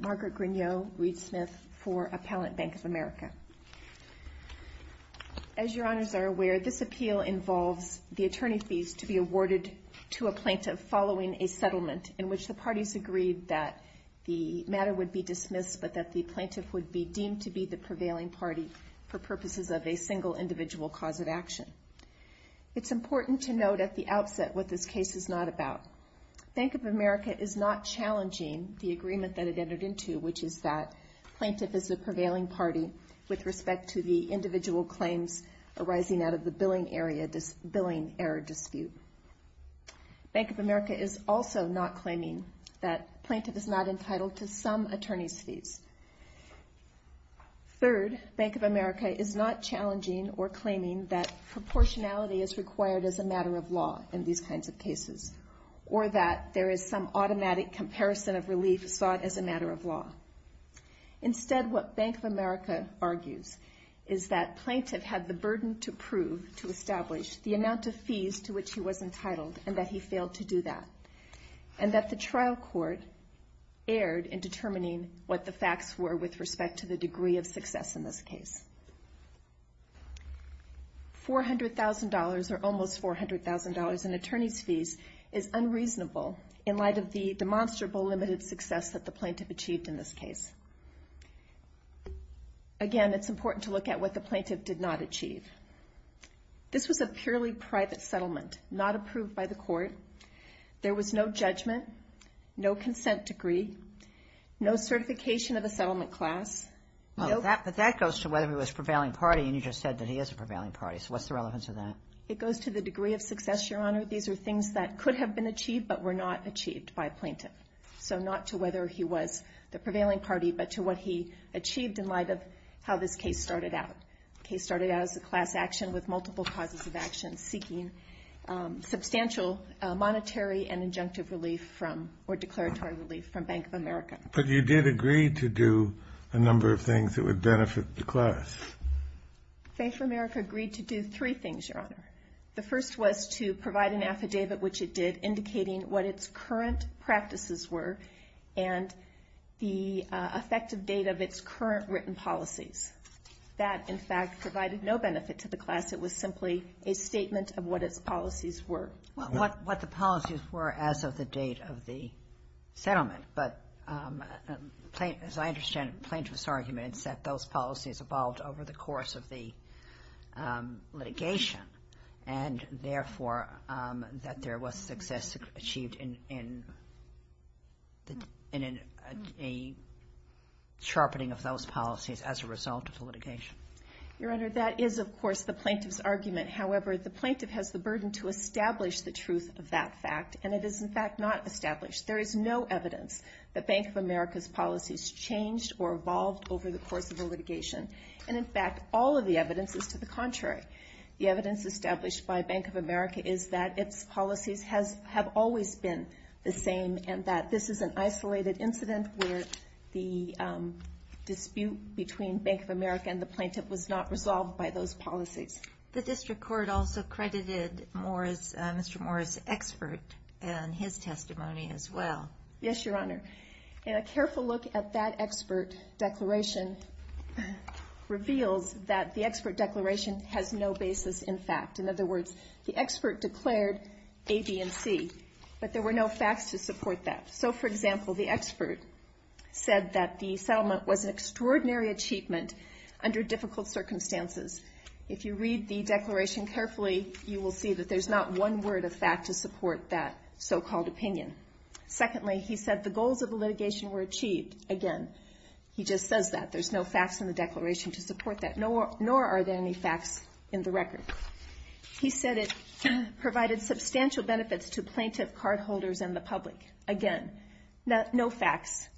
Margaret Grignot, Reed Smith for Appellant Bank of America. As your honors are aware, this appeal involves the attorney fees to be awarded to a plaintiff following a settlement in which the parties agreed that the matter would be dismissed but that the plaintiff would be deemed to be the prevailing party for purposes of a single individual cause of action. It's important to note at the outset what this case is not about. Bank of America is not challenging the agreement that it entered into, which is that plaintiff is the prevailing party with respect to the individual claims arising out of the billing error dispute. Bank of America is also not claiming that plaintiff is not entitled to some attorney's fees. Third, Bank of America is not challenging or claiming that proportionality is required as a matter of law in these kinds of cases or that there is some automatic comparison of relief sought as a matter of law. Instead, what Bank of America argues is that plaintiff had the burden to prove, to establish the amount of fees to which he was entitled and that he failed to do that and that the trial court erred in determining what the facts were with respect to the degree of success in this case. $400,000 or almost $400,000 in attorney's fees is unreasonable in light of the demonstrable limited success that the plaintiff achieved in this case. Again, it's important to look at what the plaintiff did not achieve. This was a purely private settlement, not approved by the court. There was no judgment, no consent degree, no certification of a settlement class. No. But that goes to whether he was prevailing party and you just said that he is a prevailing party. So what's the relevance of that? It goes to the degree of success, Your Honor. These are things that could have been achieved but were not achieved by a plaintiff. So not to whether he was the prevailing party but to what he achieved in light of how this case started out. The case started out as a class action with multiple causes of action seeking substantial monetary and injunctive relief from or declaratory relief from Bank of America. But you did agree to do a number of things that would benefit the class. Bank of America agreed to do three things, Your Honor. The first was to provide an affidavit which it did indicating what its current practices were and the effective date of its current written policies. That, in fact, provided no benefit to the class. It was simply a statement of what its policies were. Well, what the policies were as of the date of the settlement. But as I understand it, the plaintiff's argument is that those policies evolved over the course of the litigation and, therefore, that there was success achieved in a sharpening of those policies as a result of the litigation. Your Honor, that is, of course, the plaintiff's argument. However, the plaintiff has the burden to establish the truth of that fact and it is, in fact, not established. There is no evidence that Bank of America's policies changed or evolved over the course of the litigation. And, in fact, all of the evidence is to the contrary. The evidence established by Bank of America is that its policies have always been the same and that this is an isolated incident where the dispute between Bank of America and the United States is not resolved. In a careful look at that expert declaration reveals that the expert declaration has no basis in fact. In other words, the expert declared A, B, and C, but there were no facts to support that. So, for example, the expert said that the settlement was an extraordinary achievement under difficult circumstances. If you read the declaration carefully, you will see that there's not one word of fact to support that so-called opinion. Secondly, he said the goals of the litigation were achieved. Again, he just says that. There's no facts in the declaration to support that, nor are there any facts in the record. He said it provided substantial benefits to plaintiff cardholders and the public. Again, no facts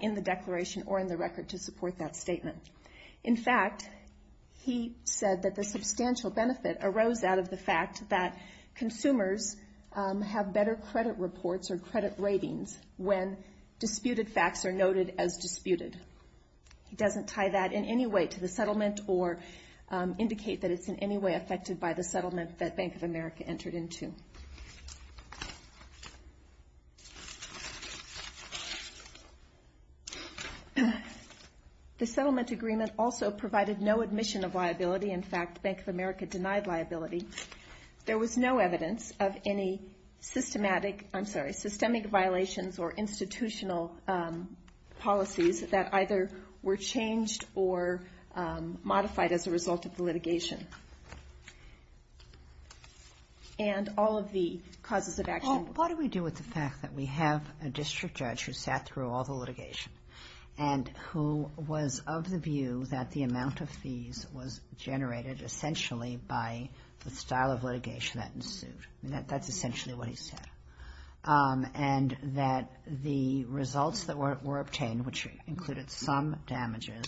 in the declaration or in the record to support that statement. In fact, he said that the substantial benefit arose out of the fact that consumers have better credit reports or credit ratings when disputed facts are noted as disputed. He doesn't tie that in any way to the settlement or indicate that it's in any way affected by the settlement that Bank of America entered into. The settlement agreement also provided no admission of liability. In fact, Bank of America denied liability. There was no evidence of any systemic violations or institutional policies that either were changed or modified as a result of the litigation. What do we do with the fact that we have a district judge who sat through all the litigation and who was of the view that the amount of fees was generated essentially by the style of litigation that ensued? That's essentially what he said. And that the results that were obtained, which included some damages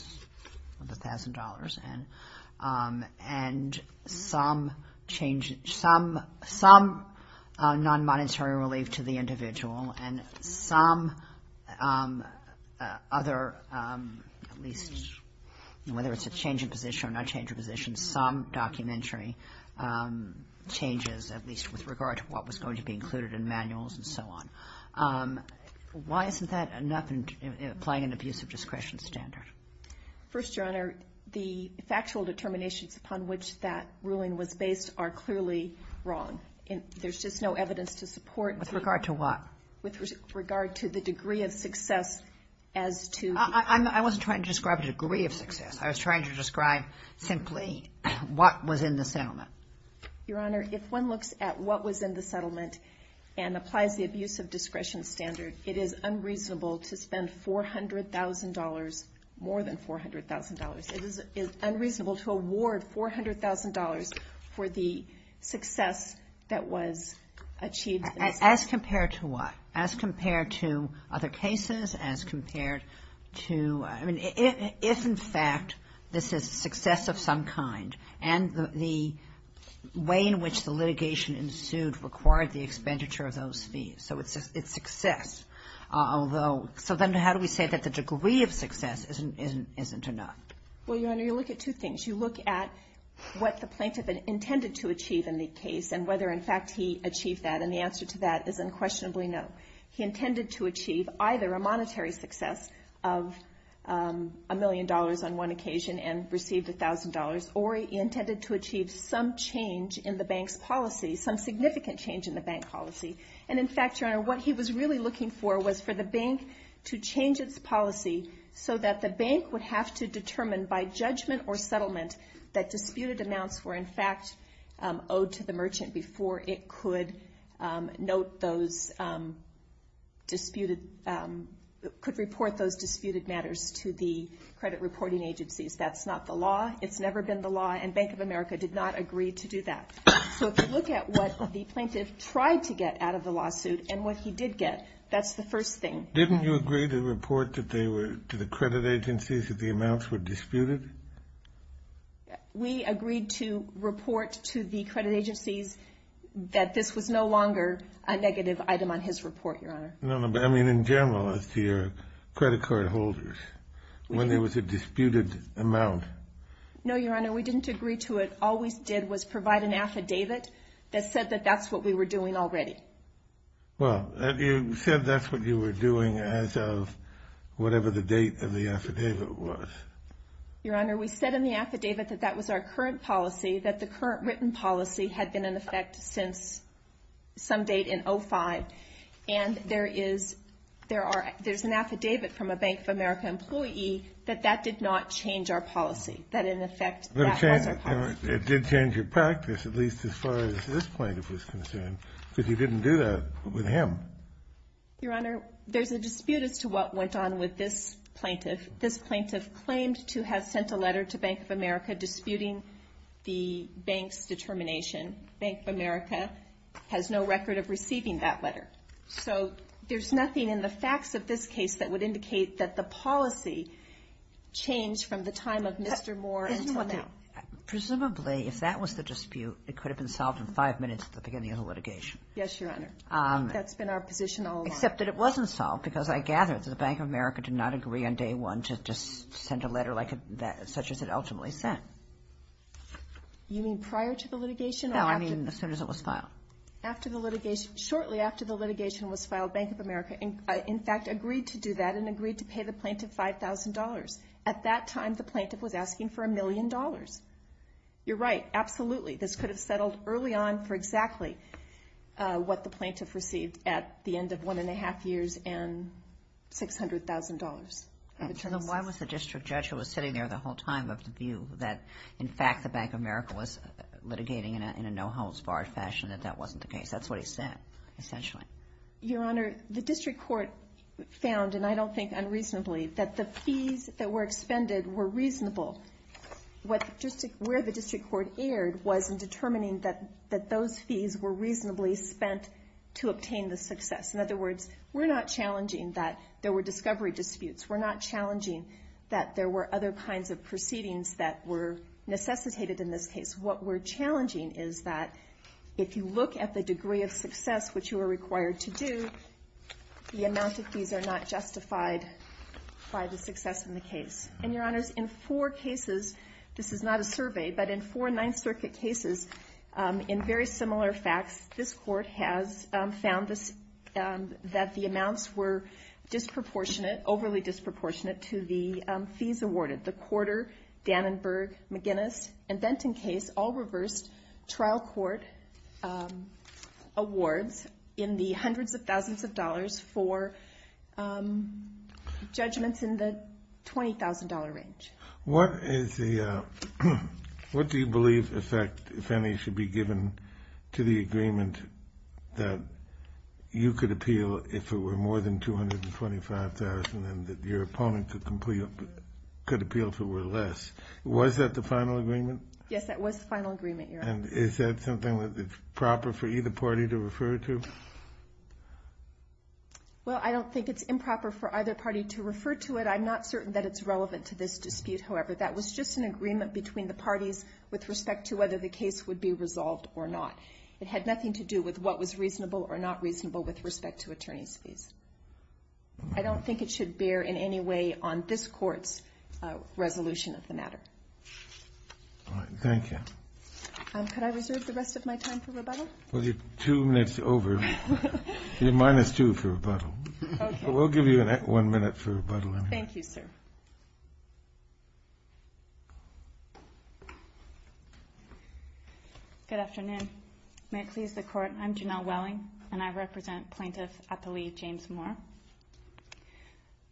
of $1,000 and some changes to the settlement agreement and some non-monetary relief to the individual and some other, at least whether it's a change in position or not change of position, some documentary changes, at least with regard to what was going to be included in manuals and so on. Why isn't that enough in applying an abuse of discretion standard? First, Your Honor, the factual determinations upon which that ruling was based are clearly wrong. There's just no evidence to support... With regard to what? With regard to the degree of success as to... I wasn't trying to describe the degree of success. I was trying to describe simply what was in the settlement. Your Honor, if one looks at what was in the settlement and applies the abuse of discretion standard, it is unreasonable to spend $400,000, more than $400,000. It is unreasonable to award $400,000 for the success that was achieved. As compared to what? As compared to other cases? As compared to... I mean, if in fact this is success of some kind and the way in which the litigation ensued required the expenditure of those fees. So it's success, although... So then how do we say that the degree of success isn't enough? Well, Your Honor, you look at two things. You look at what the plaintiff intended to achieve in the case and whether in fact he achieved that. And the answer to that is unquestionably no. He intended to achieve either a monetary success of a million dollars on one occasion and received $1,000, or he intended to achieve some change in the bank's policy, some significant change in the bank policy. And in fact, Your Honor, what he was really looking for was for the bank to change its policy so that the bank would have to determine by judgment or settlement that disputed amounts were in fact owed to the merchant before it could note those disputed... Could report those disputed matters to the credit reporting agencies. That's not the law. It's never been the law, and Bank of America did not agree to do that. So if you look at what the plaintiff tried to get out of the lawsuit and what he did get, that's the first thing. Didn't you agree to report that they were to the credit agencies that the amounts were disputed? We agreed to report to the credit agencies that this was no longer a negative item on his report, Your Honor. No, no, but I mean in general as to your credit card holders, when there was a disputed amount. No, Your Honor, we didn't agree to it. All we did was provide an affidavit that said that that's what we were doing already. Well, you said that's what you were doing as of whatever the date of the affidavit was. Your Honor, we said in the affidavit that that was our current policy, that the current written policy had been in effect since some date in 05. And there is, there's an affidavit from a Bank of America employee that that did not change our policy, that in effect that was our policy. It did change your practice, at least as far as this plaintiff was concerned, because you didn't do that with him. Your Honor, there's a dispute as to what went on with this plaintiff. This plaintiff claimed to have sent a letter to Bank of America disputing the bank's determination. Bank of America has no record of receiving that letter. So there's nothing in the facts of this case that would indicate that the policy changed from the time of Mr. Moore until now. Presumably, if that was the dispute, it could have been solved in five minutes at the beginning of the litigation. Yes, Your Honor. That's been our position all along. Except that it wasn't solved, because I gather that the Bank of America did not agree on day one to just send a letter like that, such as it ultimately sent. You mean prior to the litigation? No, I mean as soon as it was filed. After the litigation, shortly after the litigation was filed, Bank of America, in fact, agreed to do that and agreed to pay the plaintiff $5,000. At that time, the plaintiff was asking for $1,000,000. You're right, absolutely. This could have settled early on for exactly what the plaintiff received at the end of one and a half years and $600,000 of interest. Why was the district judge who was sitting there the whole time of the view that, in fact, the Bank of America was litigating in a no-holds-barred fashion, that that wasn't the case? That's what he said, essentially. Your Honor, the district court found, and I don't think unreasonably, that the fees that were expended were reasonable. Where the district court erred was in determining that those fees were reasonably spent to obtain the success. In other words, we're not challenging that there were discovery disputes. We're not challenging that there were other kinds of proceedings that were necessitated in this case. What we're challenging is that if you look at the degree of success which you were required to do, the amount of fees are not justified by the success in the case. And, Your Honors, in four cases, this is not a survey, but in four Ninth Circuit cases, in very similar facts, this Court has found that the amounts were disproportionate, overly disproportionate, to the fees awarded. The awards in the hundreds of thousands of dollars for judgments in the $20,000 range. What is the, what do you believe, in fact, if any, should be given to the agreement that you could appeal if it were more than $225,000 and that your opponent could appeal if it were less? Was that the final agreement? And is that something that's proper for either party to refer to? Well, I don't think it's improper for either party to refer to it. I'm not certain that it's relevant to this dispute, however. That was just an agreement between the parties with respect to whether the case would be resolved or not. It had nothing to do with what was reasonable or not reasonable with respect to attorney's fees. I don't think it should bear in any way on this Court's resolution of the matter. All right. Thank you. Could I reserve the rest of my time for rebuttal? Well, you're two minutes over. You're minus two for rebuttal. Okay. But we'll give you one minute for rebuttal. Thank you, sir. Good afternoon. May it please the Court, I'm Janelle Welling, and I represent Plaintiff at the League, James Moore.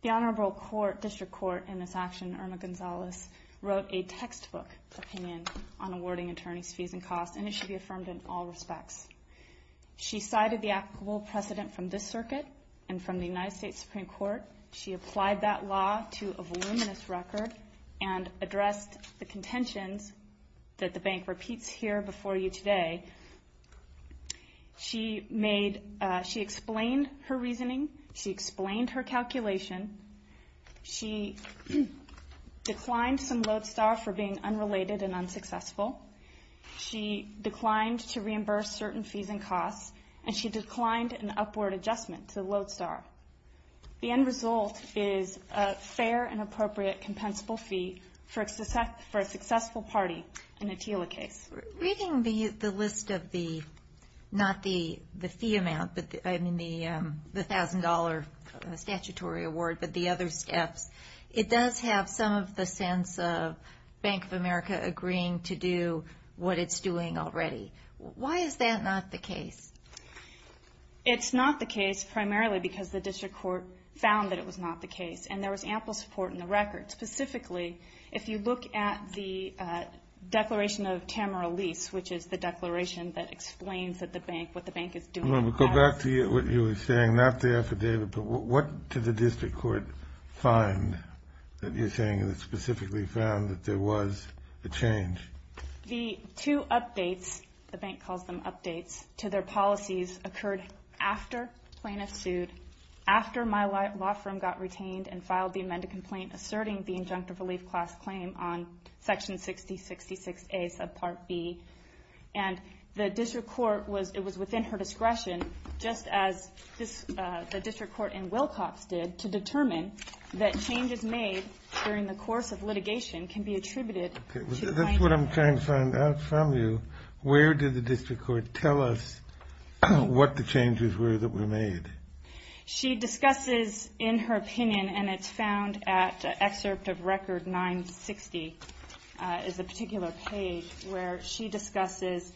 The Honorable District Court in this action, Irma Gonzalez, wrote a textbook opinion on awarding attorney's fees and costs, and it should be affirmed in all respects. She cited the applicable precedent from this Circuit and from the United States Supreme Court. She applied that law to a voluminous record and addressed the contentions that the bank repeats here before you today. She explained her reasoning. She explained her calculation. She declined some Lodestar for being unrelated and unsuccessful. She declined to reimburse certain fees and costs, and she declined an upward adjustment to Lodestar. The end result is a fair and appropriate compensable fee for a successful party in a TILA case. Reading the list of the, not the fee amount, but I mean the $1,000 statutory award, but the other steps, it does have some of the sense of Bank of America agreeing to do what it's doing already. Why is that not the case? It's not the case primarily because the district court found that it was not the case, and there was ample support in the record. Specifically, if you look at the declaration of Tamara Lease, which is the declaration that explains that the bank, what the bank is doing. Go back to what you were saying, not the affidavit, but what did the district court find that you're saying that specifically found that there was a change? The two updates, the bank calls them updates, to their policies occurred after Plaintiff sued, after my law firm got retained and filed the amended complaint asserting the injunctive relief class claim on section 6066A subpart B, and the district court was, it was within her discretion, just as the district court in Wilcox did, to determine that changes made during the course of litigation can be attributed to Plaintiff. That's what I'm trying to find out from you. Where did the district court tell us what the changes were that were made? She discusses in her opinion, and it's found at excerpt of record 960, is a particular page where she discusses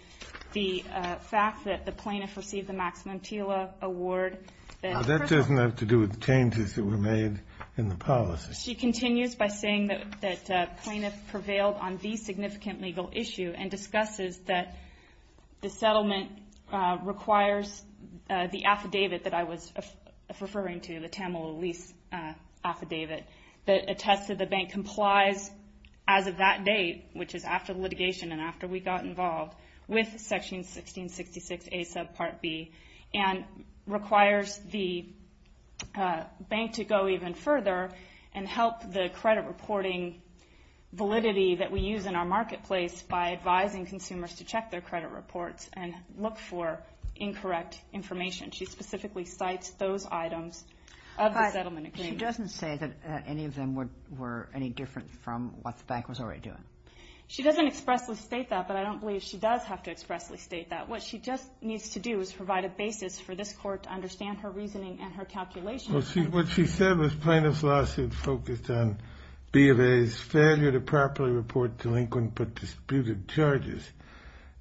the fact that the Plaintiff received the Maximum TILA Award Now that doesn't have to do with changes that were made in the policy. She continues by saying that Plaintiff prevailed on the significant legal issue and discusses that the settlement requires the affidavit that I was referring to, the Tamil lease affidavit that attests that the bank complies as of that date, which is after litigation and after we got involved with section 1666A subpart B, and requires the bank to go even further and help the credit reporting validity that we use in our marketplace by advising consumers to check their credit reports and look for incorrect information. She specifically cites those items of the settlement agreement. She doesn't say that any of them were any different from what the bank was already doing. She doesn't expressly state that, but I don't believe she does have to expressly state that. What she just needs to do is provide a basis for this court to understand her reasoning and her calculations. What she said was Plaintiff's lawsuit focused on B of A's failure to properly report delinquent but disputed charges.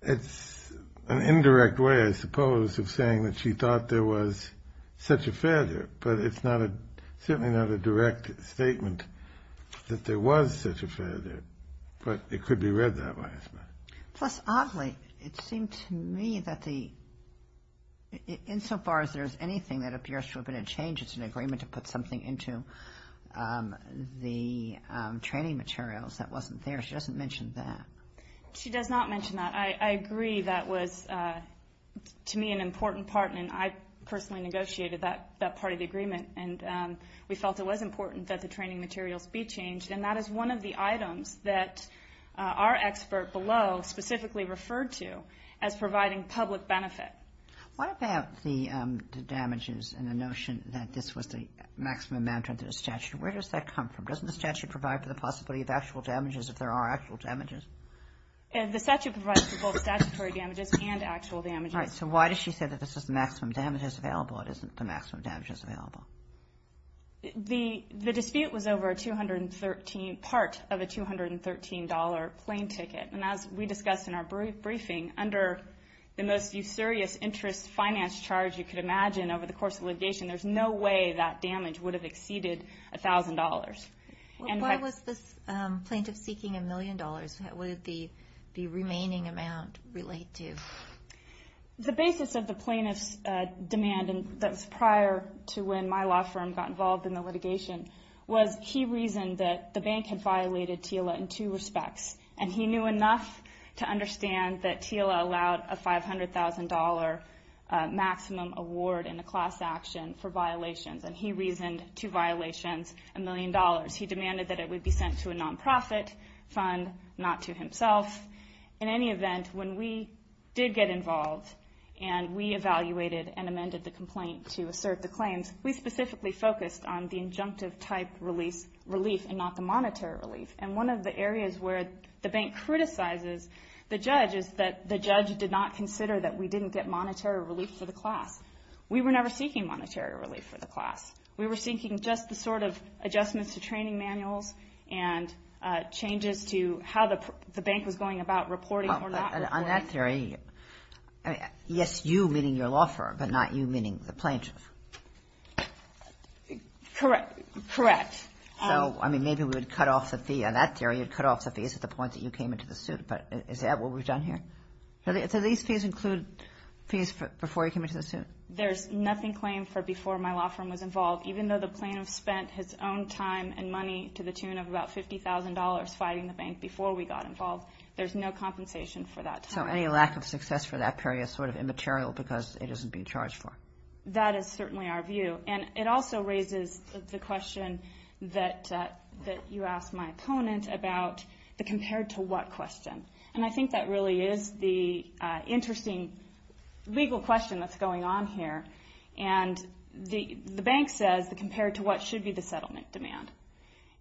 It's an indirect way, I suppose, of saying that she thought there was such a failure, but it's certainly not a direct statement that there was such a failure, but it could be read that way. Plus, oddly, it seemed to me that insofar as there's anything that appears to have been a change, it's an agreement to put something into the training materials that wasn't there. She doesn't mention that. She does not mention that. I agree that was, to me, an important part, and I personally negotiated that part of the agreement, and we felt it was important that the training materials be changed, and that is one of the items that our expert below specifically referred to as providing public benefit. What about the damages and the notion that this was the maximum amount under the statute? Where does that come from? Doesn't the statute provide for the possibility of actual damages if there are actual damages? The statute provides for both statutory damages and actual damages. All right. So why does she say that this is the maximum damages available? It isn't the maximum damages available. The dispute was over a $213 part of a $213 plane ticket, and as we discussed in our briefing, under the most serious interest finance charge you could imagine over the course of litigation, there's no way that damage would have exceeded $1,000. Why was this plaintiff seeking $1 million? What did the remaining amount relate to? The basis of the plaintiff's demand that was prior to when my law firm got involved in the litigation was he reasoned that the bank had violated TILA in two respects, and he knew enough to understand that TILA allowed a $500,000 maximum award in a class action for violations, and he reasoned two violations, $1 million. He demanded that it would be sent to a nonprofit fund, not to himself. In any event, when we did get involved and we evaluated and amended the complaint to assert the claims, we specifically focused on the injunctive type relief and not the monetary relief. And one of the areas where the bank criticizes the judge is that the judge did not consider that we didn't get monetary relief for the class. We were never seeking monetary relief for the class. We were seeking just the sort of adjustments to training manuals and changes to how the bank was going about reporting or not reporting. On that theory, yes, you, meaning your law firm, but not you, meaning the plaintiff. Correct. Correct. So, I mean, maybe we would cut off the fee. On that theory, you'd cut off the fees at the point that you came into the suit, but is that what we've done here? So these fees include fees before you came into the suit? There's nothing claimed for before my law firm was involved. Even though the plaintiff spent his own time and money to the tune of about $50,000 fighting the bank before we got involved, there's no compensation for that time. So any lack of success for that period is sort of immaterial because it isn't being charged for. That is certainly our view. And it also raises the question that you asked my opponent about the compared to what question. And I think that really is the interesting legal question that's going on here. And the bank says the compared to what should be the settlement demand.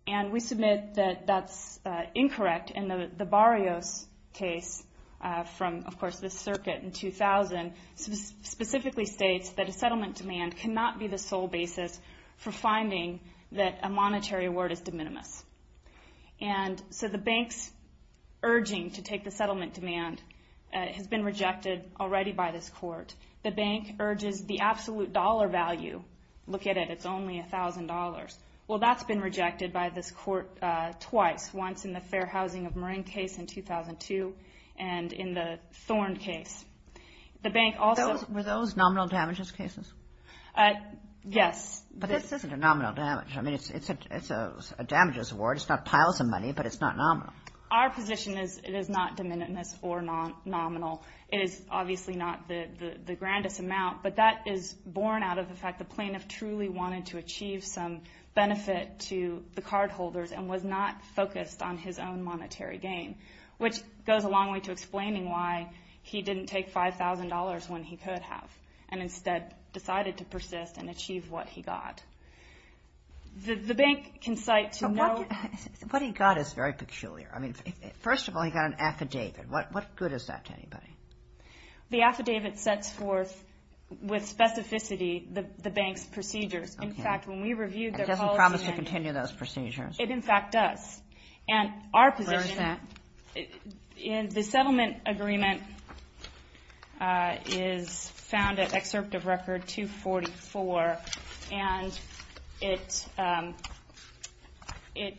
And we submit that that's incorrect. And the Barrios case from, of course, the circuit in 2000 specifically states that a settlement demand cannot be the sole basis for finding that a monetary award is de minimis. And so the bank's urging to take the settlement demand has been rejected already by this court. The bank urges the absolute dollar value. Look at it. It's only $1,000. Well, that's been rejected by this court twice, once in the Fair Housing of Marin case in 2002 and in the Thorn case. The bank also – Were those nominal damages cases? Yes. But this isn't a nominal damage. I mean, it's a damages award. It's not piles of money, but it's not nominal. Our position is it is not de minimis or nominal. It is obviously not the grandest amount. But that is born out of the fact the plaintiff truly wanted to achieve some benefit to the cardholders and was not focused on his own monetary gain, which goes a long way to explaining why he didn't take $5,000 when he could have and instead decided to persist and achieve what he got. The bank can cite to note – What he got is very peculiar. I mean, first of all, he got an affidavit. What good is that to anybody? The affidavit sets forth with specificity the bank's procedures. In fact, when we reviewed their policy – It doesn't promise to continue those procedures. It, in fact, does. And our position – Where is that? The settlement agreement is found at Excerpt of Record 244, and it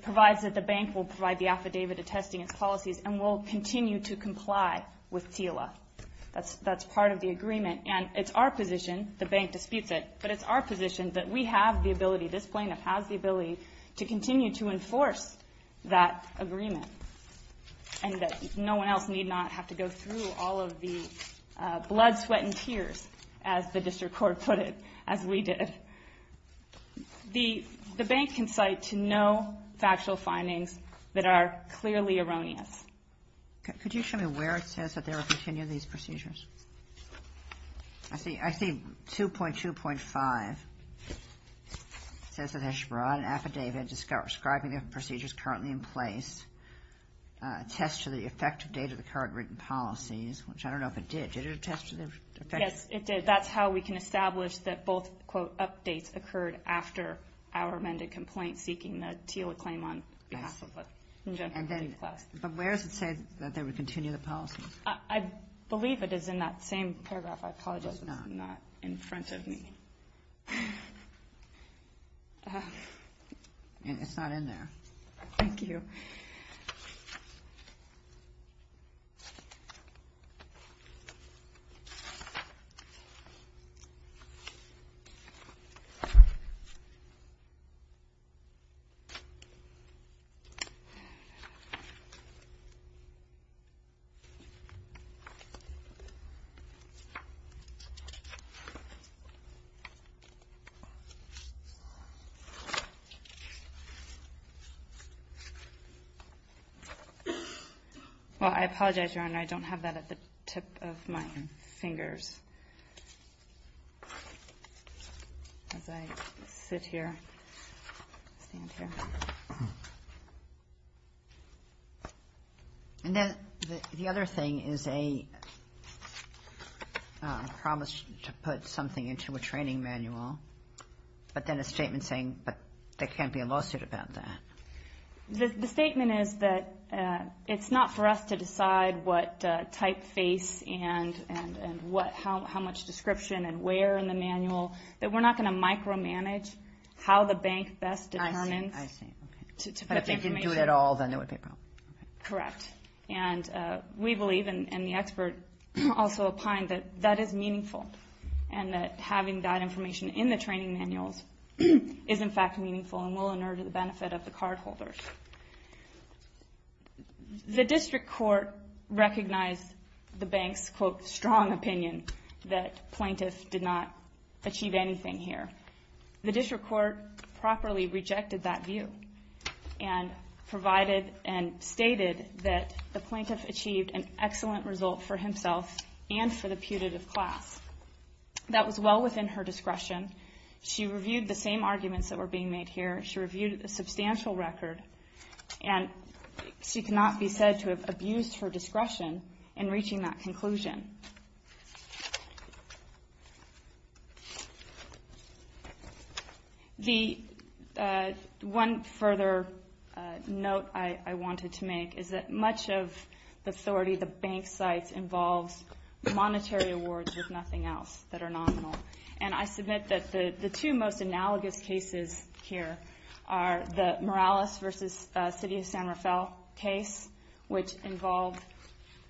provides that the bank will provide the affidavit attesting its policies and will continue to comply with TILA. That's part of the agreement. And it's our position – the bank disputes it – but it's our position that we have the ability, this plaintiff has the ability, to continue to enforce that agreement and that no one else need not have to go through all of the blood, sweat, and tears, as the district court put it, as we did. The bank can cite to no factual findings that are clearly erroneous. Could you show me where it says that they will continue these procedures? I see 2.2.5. It says that they should provide an affidavit describing the procedures currently in place, attest to the effective date of the current written policies, which I don't know if it did. Did it attest to the effective date? Yes, it did. That's how we can establish that both, quote, updates occurred after our amended complaint seeking the TILA claim on behalf of the congenital body class. But where does it say that they would continue the policies? I believe it is in that same paragraph. I apologize if it's not in front of me. It's not in there. Thank you. Well, I apologize, Your Honor. I don't have that at the tip of my fingers. As I sit here, stand here. And then the other thing is a promise to put something into a training manual, but then a statement saying there can't be a lawsuit about that. The statement is that it's not for us to decide what typeface and how much description and where in the manual. We're not going to micromanage how the bank best determines. I see. But if they didn't do it at all, then there would be a problem. Correct. And we believe, and the expert also opined, that that is meaningful and that having that information in the training manuals is, in fact, meaningful and will inert the benefit of the cardholders. The district court recognized the bank's, quote, strong opinion that plaintiffs did not achieve anything here. The district court properly rejected that view and provided and stated that the plaintiff achieved an excellent result for himself and for the putative class. That was well within her discretion. She reviewed the same arguments that were being made here. She reviewed a substantial record, and she cannot be said to have abused her discretion in reaching that conclusion. One further note I wanted to make is that much of the authority the bank cites involves monetary awards, if nothing else, that are nominal. And I submit that the two most analogous cases here are the Morales v. City of San Rafael case, which involved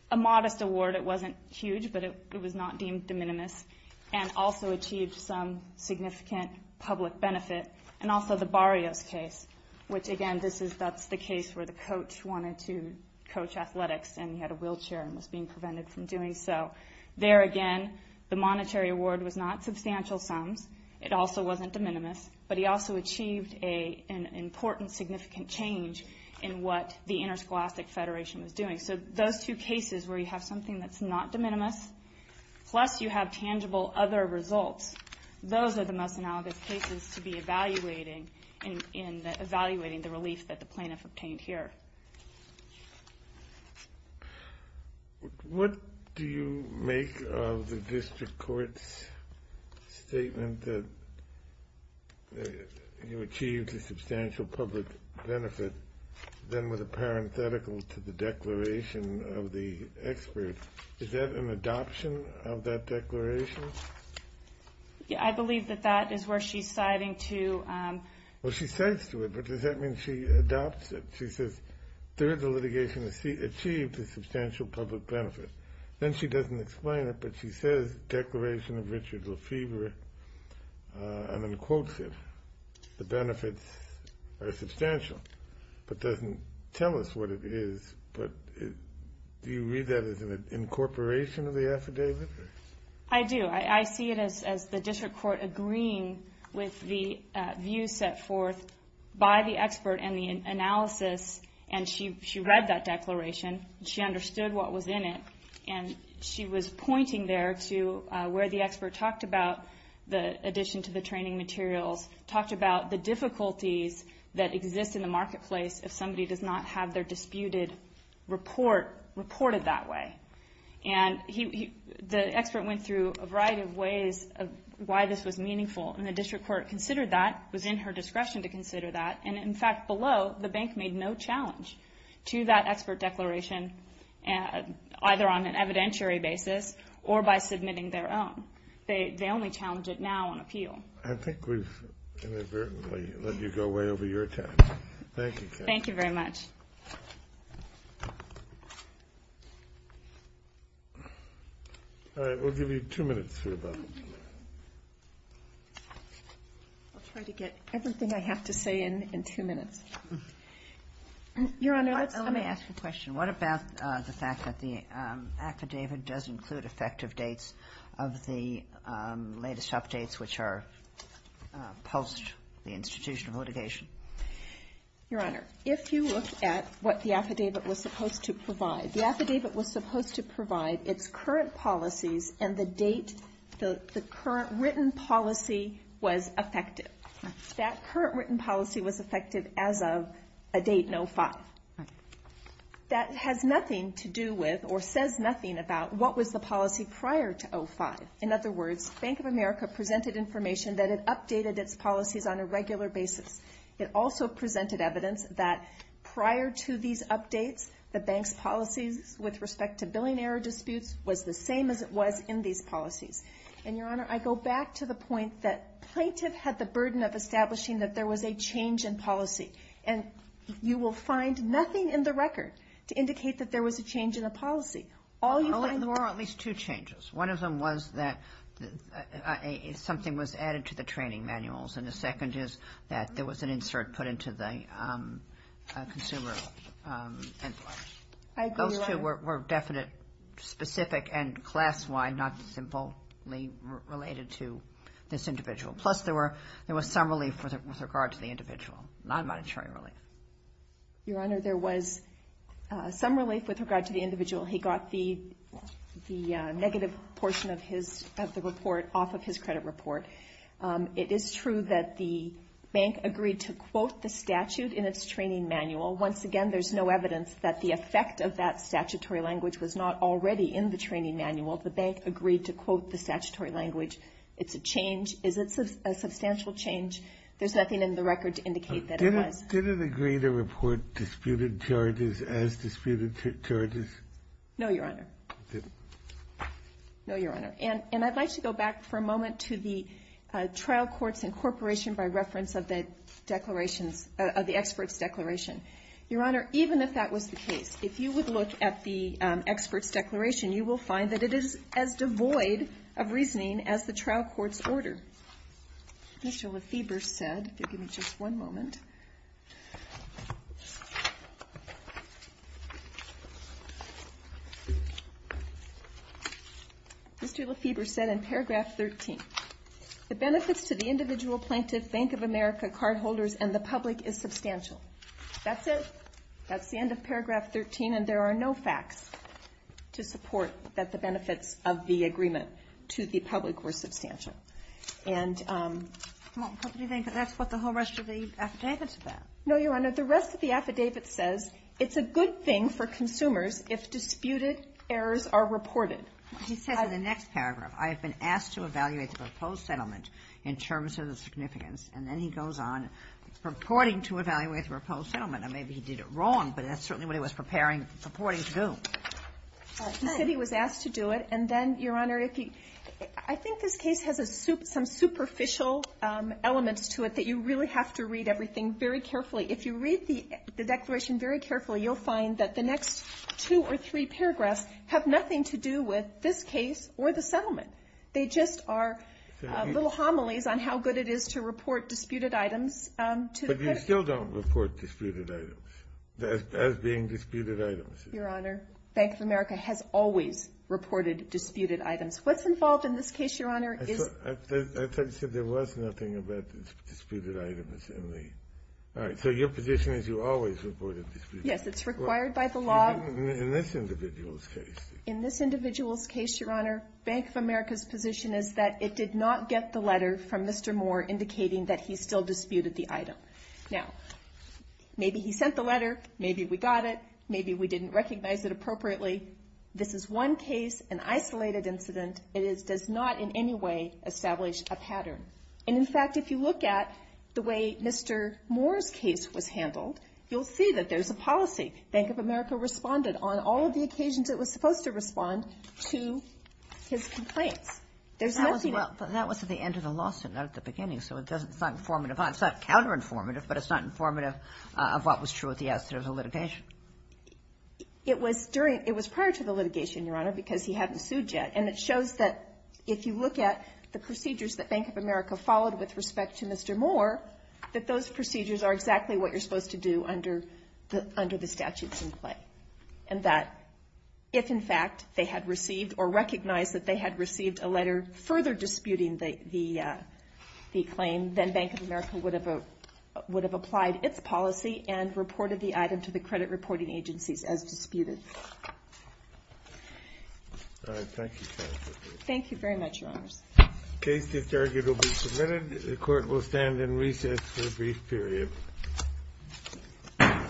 a modest award. It wasn't huge, but it was not deemed de minimis, and also achieved some significant public benefit. And also the Barrios case, which, again, that's the case where the coach wanted to coach athletics, and he had a wheelchair and was being prevented from doing so. There, again, the monetary award was not substantial sums. It also wasn't de minimis. But he also achieved an important, significant change in what the Interscholastic Federation was doing. So those two cases where you have something that's not de minimis, plus you have tangible other results, those are the most analogous cases to be evaluating the relief that the plaintiff obtained here. What do you make of the district court's statement that you achieved a substantial public benefit, then with a parenthetical to the declaration of the expert? Is that an adoption of that declaration? I believe that that is where she's citing to... Well, she cites to it, but does that mean she adopts it? She says, third, the litigation achieved a substantial public benefit. Then she doesn't explain it, but she says, declaration of Richard Lefebvre, and then quotes it. The benefits are substantial, but doesn't tell us what it is. But do you read that as an incorporation of the affidavit? I do. I see it as the district court agreeing with the view set forth by the expert and the analysis, and she read that declaration. She understood what was in it, and she was pointing there to where the expert talked about the addition to the training materials, talked about the difficulties that exist in the marketplace if somebody does not have their disputed report reported that way. The expert went through a variety of ways of why this was meaningful, and the district court considered that, was in her discretion to consider that, and, in fact, below, the bank made no challenge to that expert declaration, either on an evidentiary basis or by submitting their own. They only challenge it now on appeal. I think we've inadvertently let you go way over your time. Thank you. Thank you very much. All right. We'll give you two minutes here, Bob. I'll try to get everything I have to say in two minutes. Your Honor, let me ask a question. What about the fact that the affidavit does include effective dates of the latest updates, which are post the institution of litigation? Your Honor, if you look at what the affidavit was supposed to provide, the affidavit was supposed to provide its current policies and the date the current written policy was effective. That current written policy was effective as of a date in 2005. That has nothing to do with or says nothing about what was the policy prior to 2005. In other words, Bank of America presented information that it updated its policies on a regular basis. It also presented evidence that prior to these updates, the bank's policies with respect to billing error disputes was the same as it was in these policies. And, Your Honor, I go back to the point that plaintiff had the burden of establishing that there was a change in policy, and you will find nothing in the record to indicate that there was a change in the policy. There were at least two changes. One of them was that something was added to the training manuals, and the second is that there was an insert put into the consumer. I agree, Your Honor. Those two were definite, specific, and class-wide, not simply related to this individual. Plus, there was some relief with regard to the individual, non-monetary relief. Your Honor, there was some relief with regard to the individual. He got the negative portion of the report off of his credit report. It is true that the bank agreed to quote the statute in its training manual. Once again, there's no evidence that the effect of that statutory language was not already in the training manual. The bank agreed to quote the statutory language. It's a change. It's a substantial change. There's nothing in the record to indicate that it was. Did it agree to report disputed charges as disputed charges? No, Your Honor. It didn't? No, Your Honor. And I'd like to go back for a moment to the trial court's incorporation by reference of the declarations, of the expert's declaration. Your Honor, even if that was the case, if you would look at the expert's declaration, you will find that it is as devoid of reasoning as the trial court's order. Mr. Lefebvre said, if you'll give me just one moment. Mr. Lefebvre said in paragraph 13, the benefits to the individual plaintiff Bank of America cardholders and the public is substantial. That's it. That's the end of paragraph 13, and there are no facts to support that the benefits of the agreement to the public were substantial. And that's what the whole rest of the affidavit said. No, Your Honor. The rest of the affidavit says it's a good thing for consumers if disputed errors are reported. He says in the next paragraph, I have been asked to evaluate the proposed settlement in terms of the significance, and then he goes on purporting to evaluate the proposed settlement. Now, maybe he did it wrong, but that's certainly what he was preparing, purporting to do. He said he was asked to do it, and then, Your Honor, I think this case has some superficial elements to it that you really have to read everything very carefully. If you read the declaration very carefully, you'll find that the next two or three paragraphs have nothing to do with this case or the settlement. They just are little homilies on how good it is to report disputed items to the court. I still don't report disputed items as being disputed items. Your Honor, Bank of America has always reported disputed items. What's involved in this case, Your Honor, is I thought you said there was nothing about disputed items in the All right. So your position is you always reported disputed items. Yes. It's required by the law. In this individual's case. In this individual's case, Your Honor, Bank of America's position is that it did not get the letter from Mr. Moore indicating that he still disputed the item. Now, maybe he sent the letter. Maybe we got it. Maybe we didn't recognize it appropriately. This is one case, an isolated incident. It does not in any way establish a pattern. And, in fact, if you look at the way Mr. Moore's case was handled, you'll see that there's a policy. Bank of America responded on all of the occasions it was supposed to respond to his complaints. There's nothing That was at the end of the lawsuit, not at the beginning. So it's not informative. It's not counter-informative, but it's not informative of what was true at the outset of the litigation. It was prior to the litigation, Your Honor, because he hadn't sued yet. And it shows that if you look at the procedures that Bank of America followed with respect to Mr. Moore, that those procedures are exactly what you're supposed to do under the statutes in play. And that if, in fact, they had received or recognized that they had received a letter further disputing the claim, then Bank of America would have applied its policy and reported the item to the credit reporting agencies as disputed. All right. Thank you, counsel. Thank you very much, Your Honors. Case disargued will be submitted. The Court will stand in recess for a brief period.